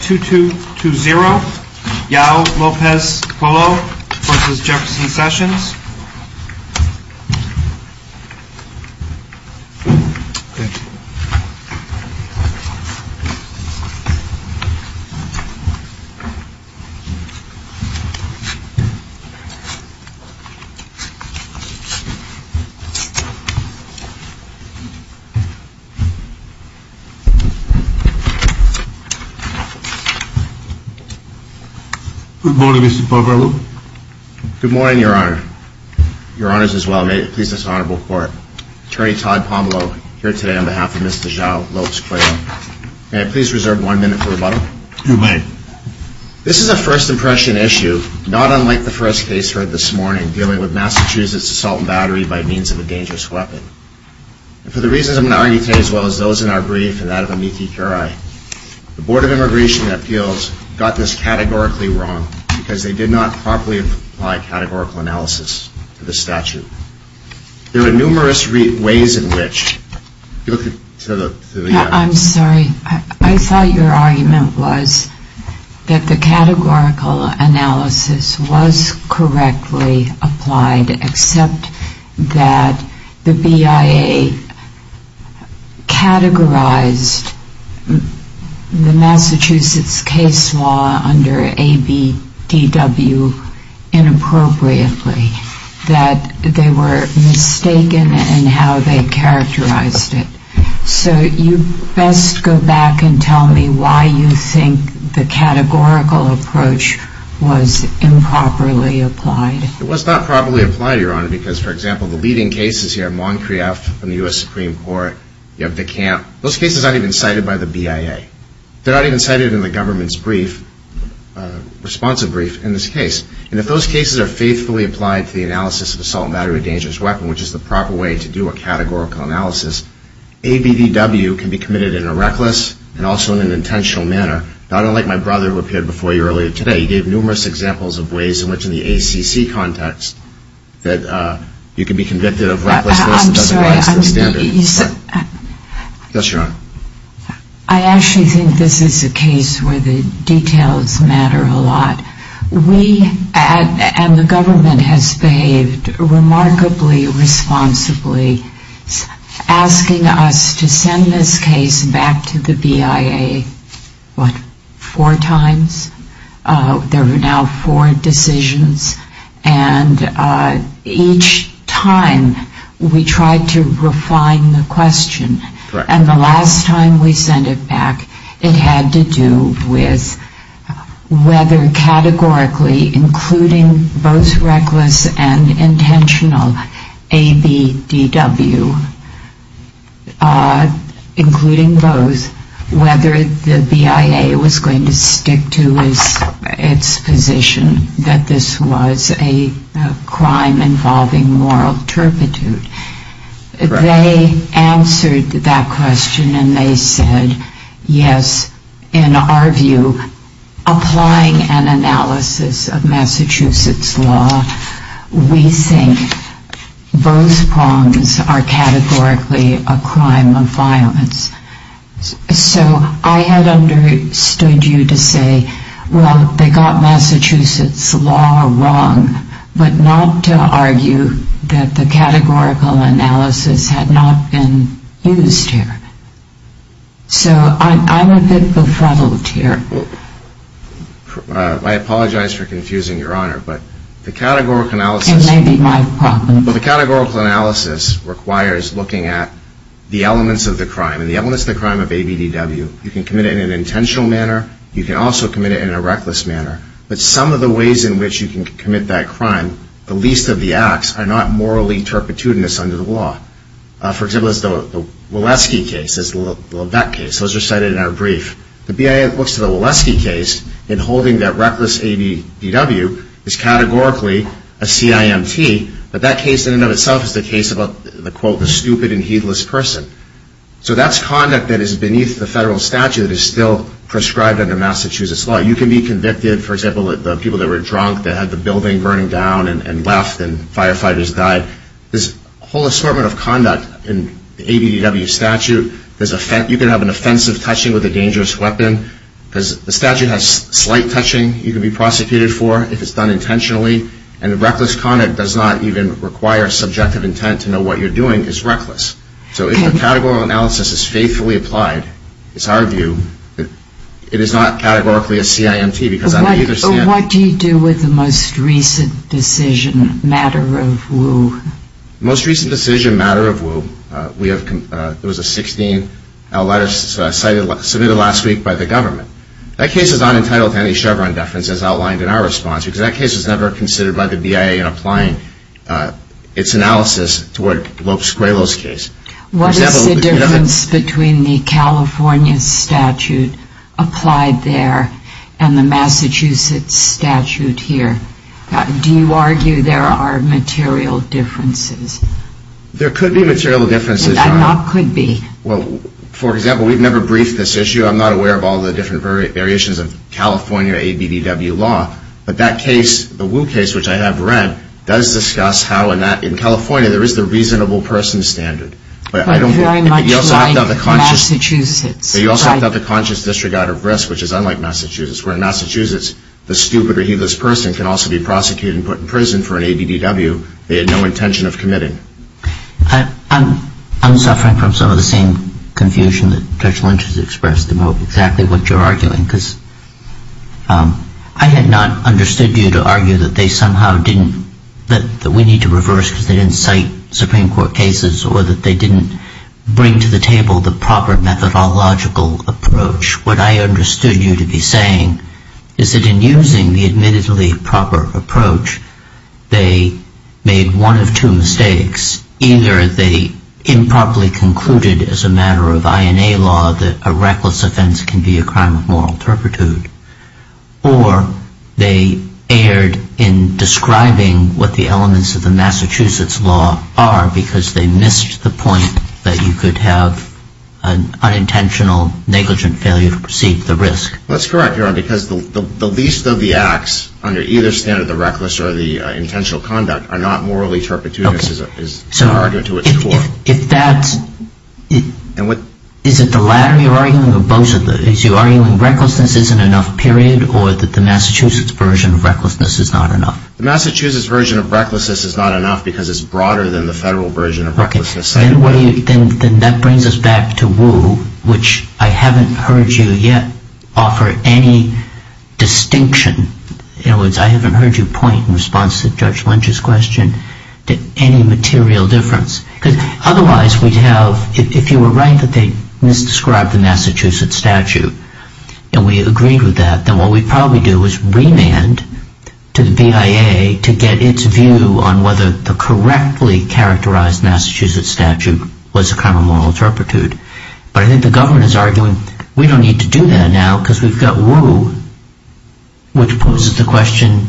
2, 2, 2, 0, Yao, Lopez, Polo v. Jefferson Sessions. Good morning Mr. Pomelo. Good morning Your Honor. Your Honors as well, may it please this Honorable Court, Attorney Todd Pomelo here today on behalf of Mr. Yao, Lopez, Polo. May I please reserve one minute for rebuttal? You may. This is a first impression issue, not unlike the first case heard this morning dealing with Massachusetts assault battery by means of a dangerous weapon. And for the reasons I'm going to argue today as well as those in our brief and that of Amiti Pirae, the Board of Immigration Appeals got this categorically wrong because they did not properly apply categorical analysis to the statute. There are numerous ways in which... I'm sorry, I thought your argument was that the categorical analysis was correctly applied except that the BIA categorized the Massachusetts case law under ABDW inappropriately, that they were mistaken in how they characterized it. So you best go back and tell me why you think the categorical approach was improperly applied. It was not properly applied, Your Honor, because for example, the leading cases here, Moncrieff from the U.S. Supreme Court, you have the camp. Those cases aren't even cited by the BIA. They're not even cited in the government's brief, responsive brief, in this case. And if those cases are faithfully applied to the analysis of the assault battery dangerous weapon, which is the proper way to do a categorical analysis, ABDW can be committed in a reckless and also in an intentional manner. I don't like my brother who appeared before you earlier today. He gave numerous examples of ways in which in the ACC context that you can be convicted of recklessness that doesn't rise to the standard. I actually think this is a case where the details matter a lot. We and the government has behaved remarkably responsibly, asking us to send this case back to the BIA, what, four times? There were now four decisions. And each time we tried to refine the question. And the last time we sent it back, it had to do with whether categorically, including both reckless and intentional ABDW, including both, whether the BIA was going to stick to its position that this was a crime involving moral turpitude. They answered that question and they said, yes, in our view, applying an analysis of Massachusetts law, we think both prongs are categorically a crime of violence. So I had understood you to say, well, they got Massachusetts law wrong, but not to argue that the categorical analysis had not been used here. So I'm a bit befuddled here. I apologize for confusing Your Honor. It may be my problem. But the categorical analysis requires looking at the elements of the crime. And the elements of the crime of ABDW, you can commit it in an intentional manner. You can also commit it in a reckless manner. But some of the ways in which you can commit that crime, the least of the acts, are not morally turpitudinous under the law. For example, the Wileski case, those are cited in our brief. The BIA looks to the Wileski case in holding that reckless ABDW is categorically a CIMT, but that case in and of itself is the case about the, quote, stupid and heedless person. So that's conduct that is beneath the federal statute that is still prescribed under Massachusetts law. You can be convicted, for example, of the people that were drunk that had the building burning down and left and firefighters died. There's a whole assortment of conduct in the ABDW statute. You can have an offensive touching with a dangerous weapon. The statute has slight touching you can be prosecuted for if it's done intentionally. And reckless conduct does not even require subjective intent to know what you're doing is reckless. So if the categorical analysis is faithfully applied, it's our view that it is not categorically a CIMT. What do you do with the most recent decision, matter of woe? Most recent decision, matter of woe, there was a 16th letter submitted last week by the government. That case is not entitled to any Chevron deference as outlined in our response, because that case was never considered by the BIA in applying its analysis toward Lopes-Squalo's case. What is the difference between the California statute applied there and the Massachusetts statute here? Do you argue there are material differences? There could be material differences. There could be. Well, for example, we've never briefed this issue. I'm not aware of all the different variations of California ABDW law. But that case, the Wu case, which I have read, does discuss how in California there is the reasonable person standard. But very much like Massachusetts. But you also have to have the conscious disregard of risk, which is unlike Massachusetts, where in Massachusetts the stupid or heedless person can also be prosecuted and put in prison for an ABDW they had no intention of committing. I'm suffering from some of the same confusion that Judge Lynch has expressed about exactly what you're arguing, because I had not understood you to argue that we need to reverse because they didn't cite Supreme Court cases or that they didn't bring to the table the proper methodological approach. What I understood you to be saying is that in using the admittedly proper approach, they made one of two mistakes. Either they improperly concluded as a matter of INA law that a reckless offense can be a crime of moral turpitude, or they erred in describing what the elements of the Massachusetts law are because they missed the point that you could have an unintentional negligent failure to perceive the risk. That's correct, Your Honor, because the least of the acts under either standard, the reckless or the intentional conduct, are not morally turpitude, is the argument to its core. Is it the latter you're arguing or both of those? Are you arguing recklessness isn't enough, period, or that the Massachusetts version of recklessness is not enough? The Massachusetts version of recklessness is not enough because it's broader than the federal version of recklessness. Then that brings us back to Woo, which I haven't heard you yet offer any distinction. In other words, I haven't heard you point in response to Judge Lynch's question to any material difference. Because otherwise we'd have, if you were right that they misdescribed the Massachusetts statute and we agreed with that, then what we'd probably do is remand to the BIA to get its view on whether the correctly characterized Massachusetts statute was a crime of moral turpitude. But I think the government is arguing we don't need to do that now because we've got Woo, which poses the question,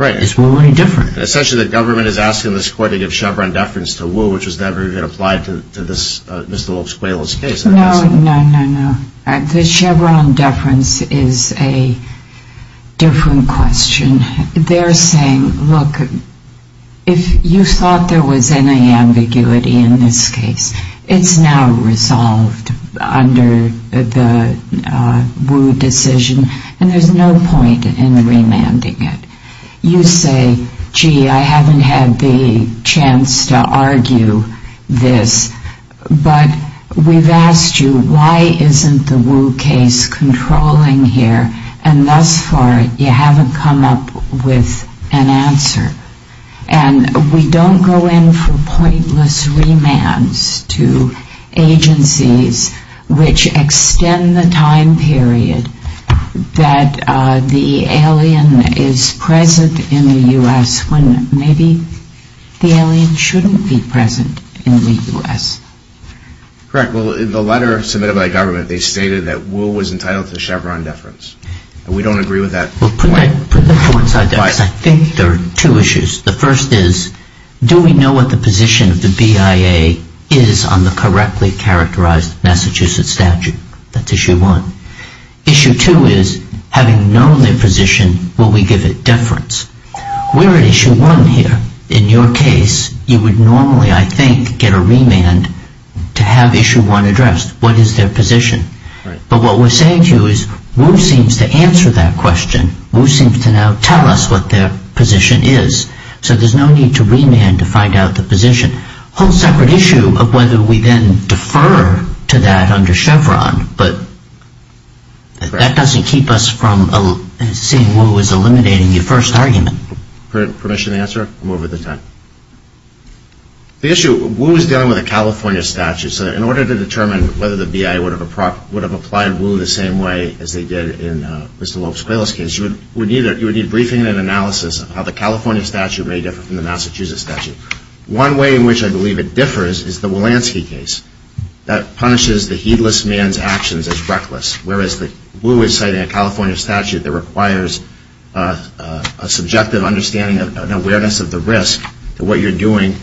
is Woo any different? Essentially the government is asking this court to give Chevron deference to Woo, which was never even applied to Mr. Lopes-Quayle's case. No, no, no, no. The Chevron deference is a different question. They're saying, look, if you thought there was any ambiguity in this case, it's now resolved under the Woo decision and there's no point in remanding it. You say, gee, I haven't had the chance to argue this. But we've asked you, why isn't the Woo case controlling here? And thus far you haven't come up with an answer. And we don't go in for pointless remands to agencies which extend the time period that the alien is present in the U.S. when maybe the alien shouldn't be present in the U.S. Correct. Well, in the letter submitted by the government, they stated that Woo was entitled to Chevron deference. We don't agree with that point. Well, put that to one side, because I think there are two issues. The first is, do we know what the position of the BIA is on the correctly characterized Massachusetts statute? That's issue one. Issue two is, having known their position, will we give it deference? We're at issue one here. In your case, you would normally, I think, get a remand to have issue one addressed. What is their position? But what we're saying to you is, Woo seems to answer that question. Woo seems to now tell us what their position is. So there's no need to remand to find out the position. It's a whole separate issue of whether we then defer to that under Chevron. But that doesn't keep us from seeing Woo as eliminating your first argument. Permission to answer? I'm over the top. The issue, Woo is dealing with a California statute. So in order to determine whether the BIA would have applied Woo the same way as they did in Mr. Lopes-Quayle's case, you would need briefing and analysis of how the California statute may differ from the Massachusetts statute. One way in which I believe it differs is the Walensky case. That punishes the heedless man's actions as reckless, whereas Woo is citing a California statute that requires a subjective understanding and awareness of the risk to what you're doing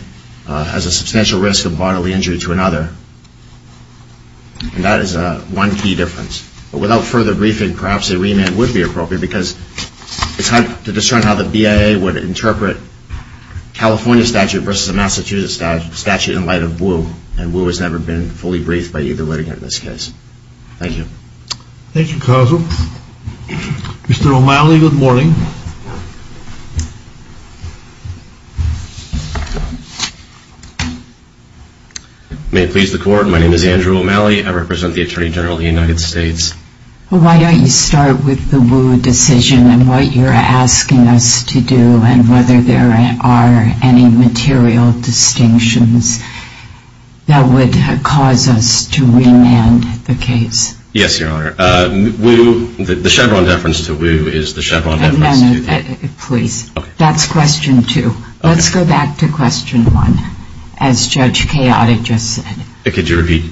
as a substantial risk of bodily injury to another. And that is one key difference. But without further briefing, perhaps a remand would be appropriate, because it's hard to discern how the BIA would interpret California statute versus a Massachusetts statute in light of Woo. And Woo has never been fully briefed by either litigant in this case. Thank you. Thank you, counsel. Mr. O'Malley, good morning. May it please the Court, my name is Andrew O'Malley. I represent the Attorney General of the United States. Why don't you start with the Woo decision and what you're asking us to do and whether there are any material distinctions that would cause us to remand the case. Yes, Your Honor. Woo, the Chevron deference to Woo is the Chevron deference to Woo. No, no, please. Okay. That's question two. Let's go back to question one, as Judge Chaotic just said. Could you repeat?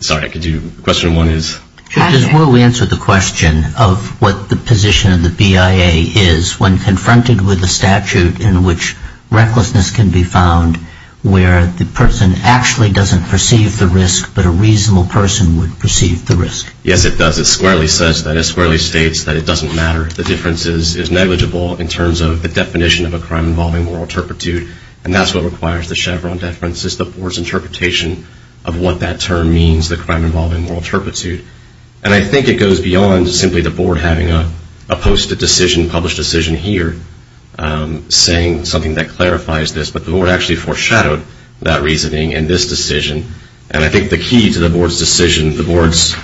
Sorry, could you? Question one is? Does Woo answer the question of what the position of the BIA is when confronted with a statute in which recklessness can be found where the person actually doesn't perceive the risk, but a reasonable person would perceive the risk? Yes, it does. It squarely states that it doesn't matter. The difference is negligible in terms of the definition of a crime involving moral turpitude, and that's what requires the Chevron deference is the Board's interpretation of what that term means, the crime involving moral turpitude. And I think it goes beyond simply the Board having a posted decision, published decision here, saying something that clarifies this, but the Board actually foreshadowed that reasoning in this decision. And I think the key to the Board's decision, the Board's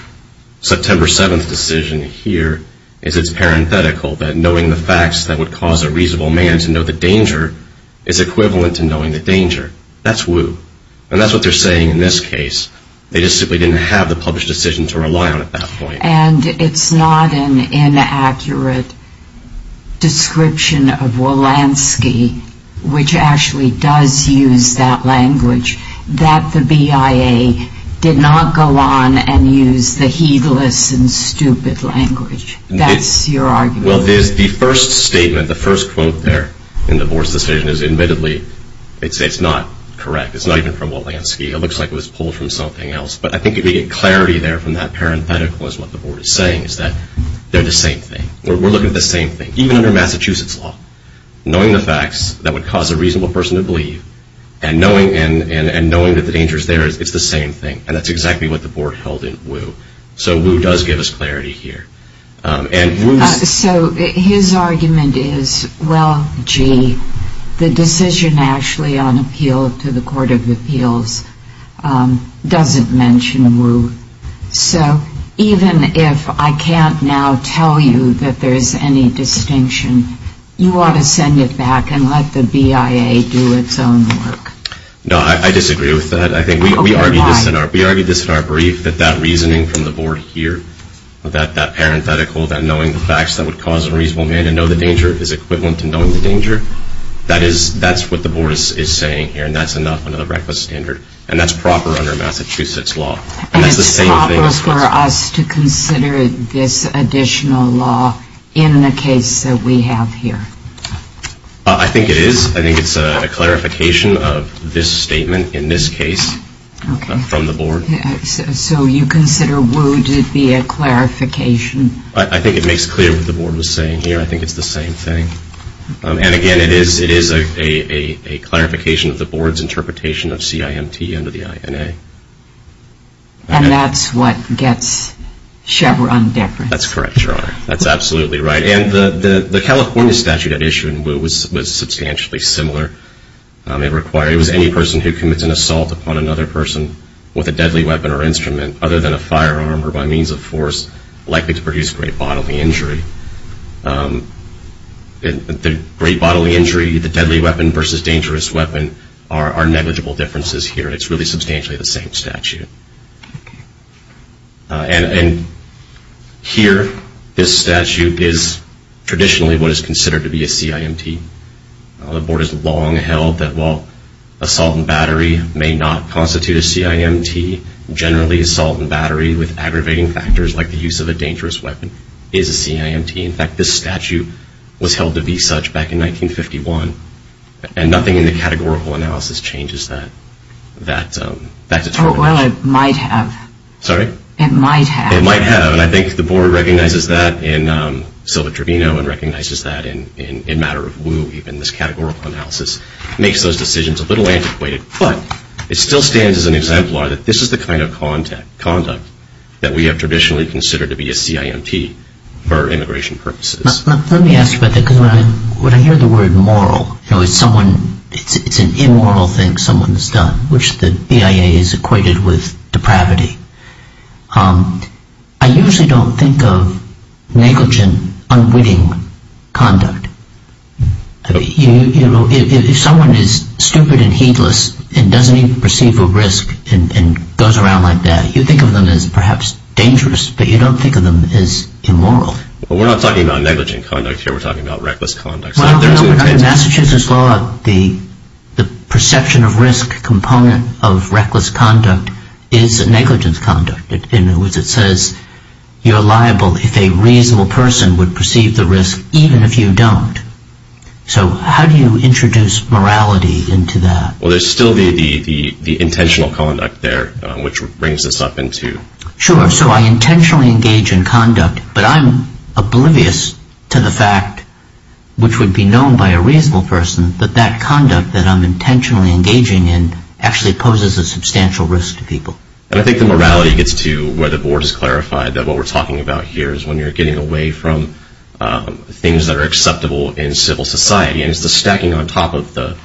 September 7th decision here, is it's parenthetical, that knowing the facts that would cause a reasonable man to know the danger is equivalent to knowing the danger. That's Woo. And that's what they're saying in this case. They just simply didn't have the published decision to rely on at that point. And it's not an inaccurate description of Wolanski, which actually does use that language, that the BIA did not go on and use the heedless and stupid language. That's your argument. Well, the first statement, the first quote there in the Board's decision is admittedly, it's not correct. It's not even from Wolanski. It looks like it was pulled from something else. But I think if we get clarity there from that parenthetical is what the Board is saying, is that they're the same thing. We're looking at the same thing, even under Massachusetts law. Knowing the facts that would cause a reasonable person to believe and knowing that the danger is there, it's the same thing. And that's exactly what the Board held in Woo. So Woo does give us clarity here. So his argument is, well, gee, the decision actually on appeal to the Court of Appeals doesn't mention Woo. So even if I can't now tell you that there's any distinction, you ought to send it back and let the BIA do its own work. No, I disagree with that. I think we argued this in our brief, that that reasoning from the Board here, that parenthetical, that knowing the facts that would cause a reasonable man to know the danger, is equivalent to knowing the danger, that's what the Board is saying here. And that's enough under the reckless standard. And that's proper under Massachusetts law. And it's proper for us to consider this additional law in the case that we have here. I think it is. I think it's a clarification of this statement in this case from the Board. So you consider Woo to be a clarification? I think it makes clear what the Board was saying here. I think it's the same thing. And again, it is a clarification of the Board's interpretation of CIMT under the INA. And that's what gets Chevron different. That's correct, Your Honor. That's absolutely right. And the California statute at issue in Woo was substantially similar. It was any person who commits an assault upon another person with a deadly weapon or instrument, other than a firearm or by means of force, likely to produce great bodily injury. The great bodily injury, the deadly weapon versus dangerous weapon, are negligible differences here. It's really substantially the same statute. And here, this statute is traditionally what is considered to be a CIMT. The Board has long held that while assault and battery may not constitute a CIMT, generally assault and battery with aggravating factors like the use of a dangerous weapon is a CIMT. In fact, this statute was held to be such back in 1951. And nothing in the categorical analysis changes that determination. Well, it might have. Sorry? It might have. It might have. And I think the Board recognizes that in Silva-Trevino and recognizes that in matter of Woo even. This categorical analysis makes those decisions a little antiquated. But it still stands as an exemplar that this is the kind of conduct that we have traditionally considered to be a CIMT for immigration purposes. Let me ask you about that because when I hear the word moral, it's an immoral thing someone has done, which the EIA has equated with depravity. I usually don't think of negligent, unwitting conduct. If someone is stupid and heedless and doesn't even perceive a risk and goes around like that, you think of them as perhaps dangerous, but you don't think of them as immoral. Well, we're not talking about negligent conduct here. We're talking about reckless conduct. Under Massachusetts law, the perception of risk component of reckless conduct is negligent conduct. In other words, it says you're liable if a reasonable person would perceive the risk even if you don't. So how do you introduce morality into that? Well, there's still the intentional conduct there, which brings this up in two. Sure. So I intentionally engage in conduct, but I'm oblivious to the fact, which would be known by a reasonable person, that that conduct that I'm intentionally engaging in actually poses a substantial risk to people. And I think the morality gets to where the board has clarified that what we're talking about here is when you're getting away from things that are acceptable in civil society, and it's the stacking on top of the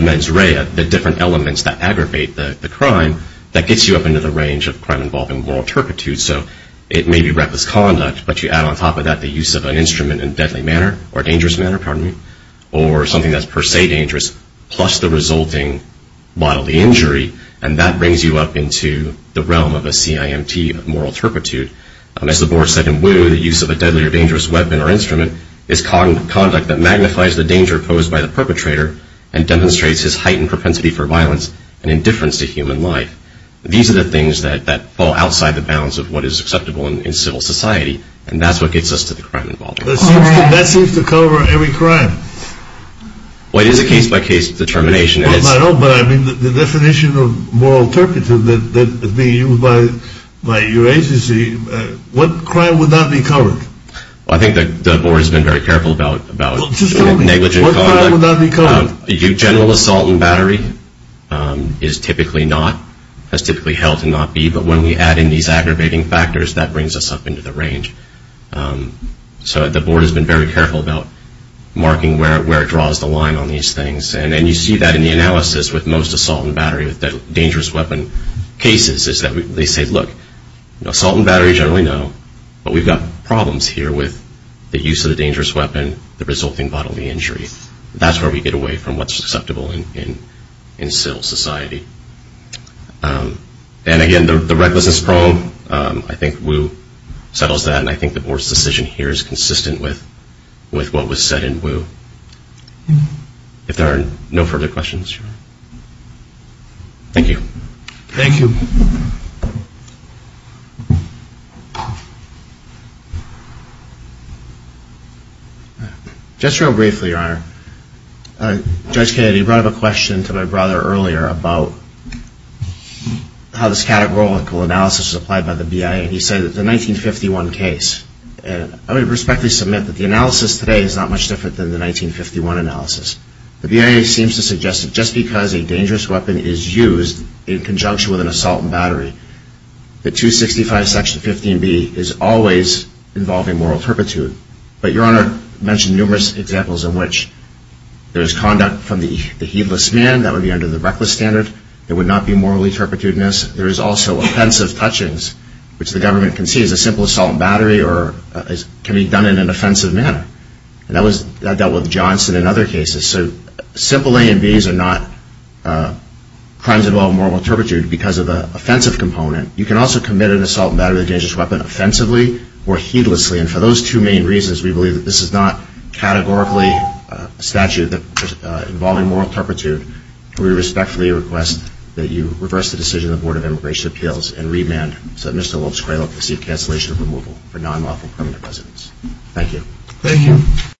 mens rea, the different elements that aggravate the crime, that gets you up into the range of crime involving moral turpitude. So it may be reckless conduct, but you add on top of that the use of an instrument in a deadly manner, or a dangerous manner, pardon me, or something that's per se dangerous, plus the resulting bodily injury, and that brings you up into the realm of a CIMT, moral turpitude. As the board said in Woo, the use of a deadly or dangerous weapon or instrument is conduct that magnifies the danger posed by the perpetrator and demonstrates his heightened propensity for violence and indifference to human life. These are the things that fall outside the bounds of what is acceptable in civil society, and that's what gets us to the crime involving moral turpitude. That seems to cover every crime. Well, it is a case-by-case determination. I know, but I mean, the definition of moral turpitude that is being used by your agency, what crime would not be covered? Well, I think the board has been very careful about negligent conduct. General assault and battery is typically not, has typically held to not be, but when we add in these aggravating factors, that brings us up into the range. So the board has been very careful about marking where it draws the line on these things, and you see that in the analysis with most assault and battery, with dangerous weapon cases, is that they say, look, assault and battery, generally no, but we've got problems here with the use of the dangerous weapon, the resulting bodily injury. That's where we get away from what's acceptable in civil society. And, again, the recklessness problem, I think Wu settles that, and I think the board's decision here is consistent with what was said in Wu. If there are no further questions. Thank you. Thank you. Just real briefly, Your Honor, Judge Kennedy brought up a question to my brother earlier about how this categorical analysis is applied by the BIA, and he said that the 1951 case, and I would respectfully submit that the analysis today is not much different than the 1951 analysis. The BIA seems to suggest that just because a dangerous weapon is used in conjunction with an assault and battery, that 265 Section 15B is always involving moral turpitude. But Your Honor mentioned numerous examples in which there is conduct from the heedless man, that would be under the reckless standard, there would not be morally turpitude in this, there is also offensive touchings, which the government can see as a simple assault and battery or can be done in an offensive manner, and that dealt with Johnson in other cases. So simple A and B's are not crimes involving moral turpitude because of the offensive component. You can also commit an assault and battery with a dangerous weapon offensively or heedlessly, and for those two main reasons we believe that this is not categorically a statute involving moral turpitude. We respectfully request that you reverse the decision of the Board of Immigration Appeals and remand Mr. Wilkes-Craylock to receive cancellation of removal for non-lawful permanent residence. Thank you. Thank you.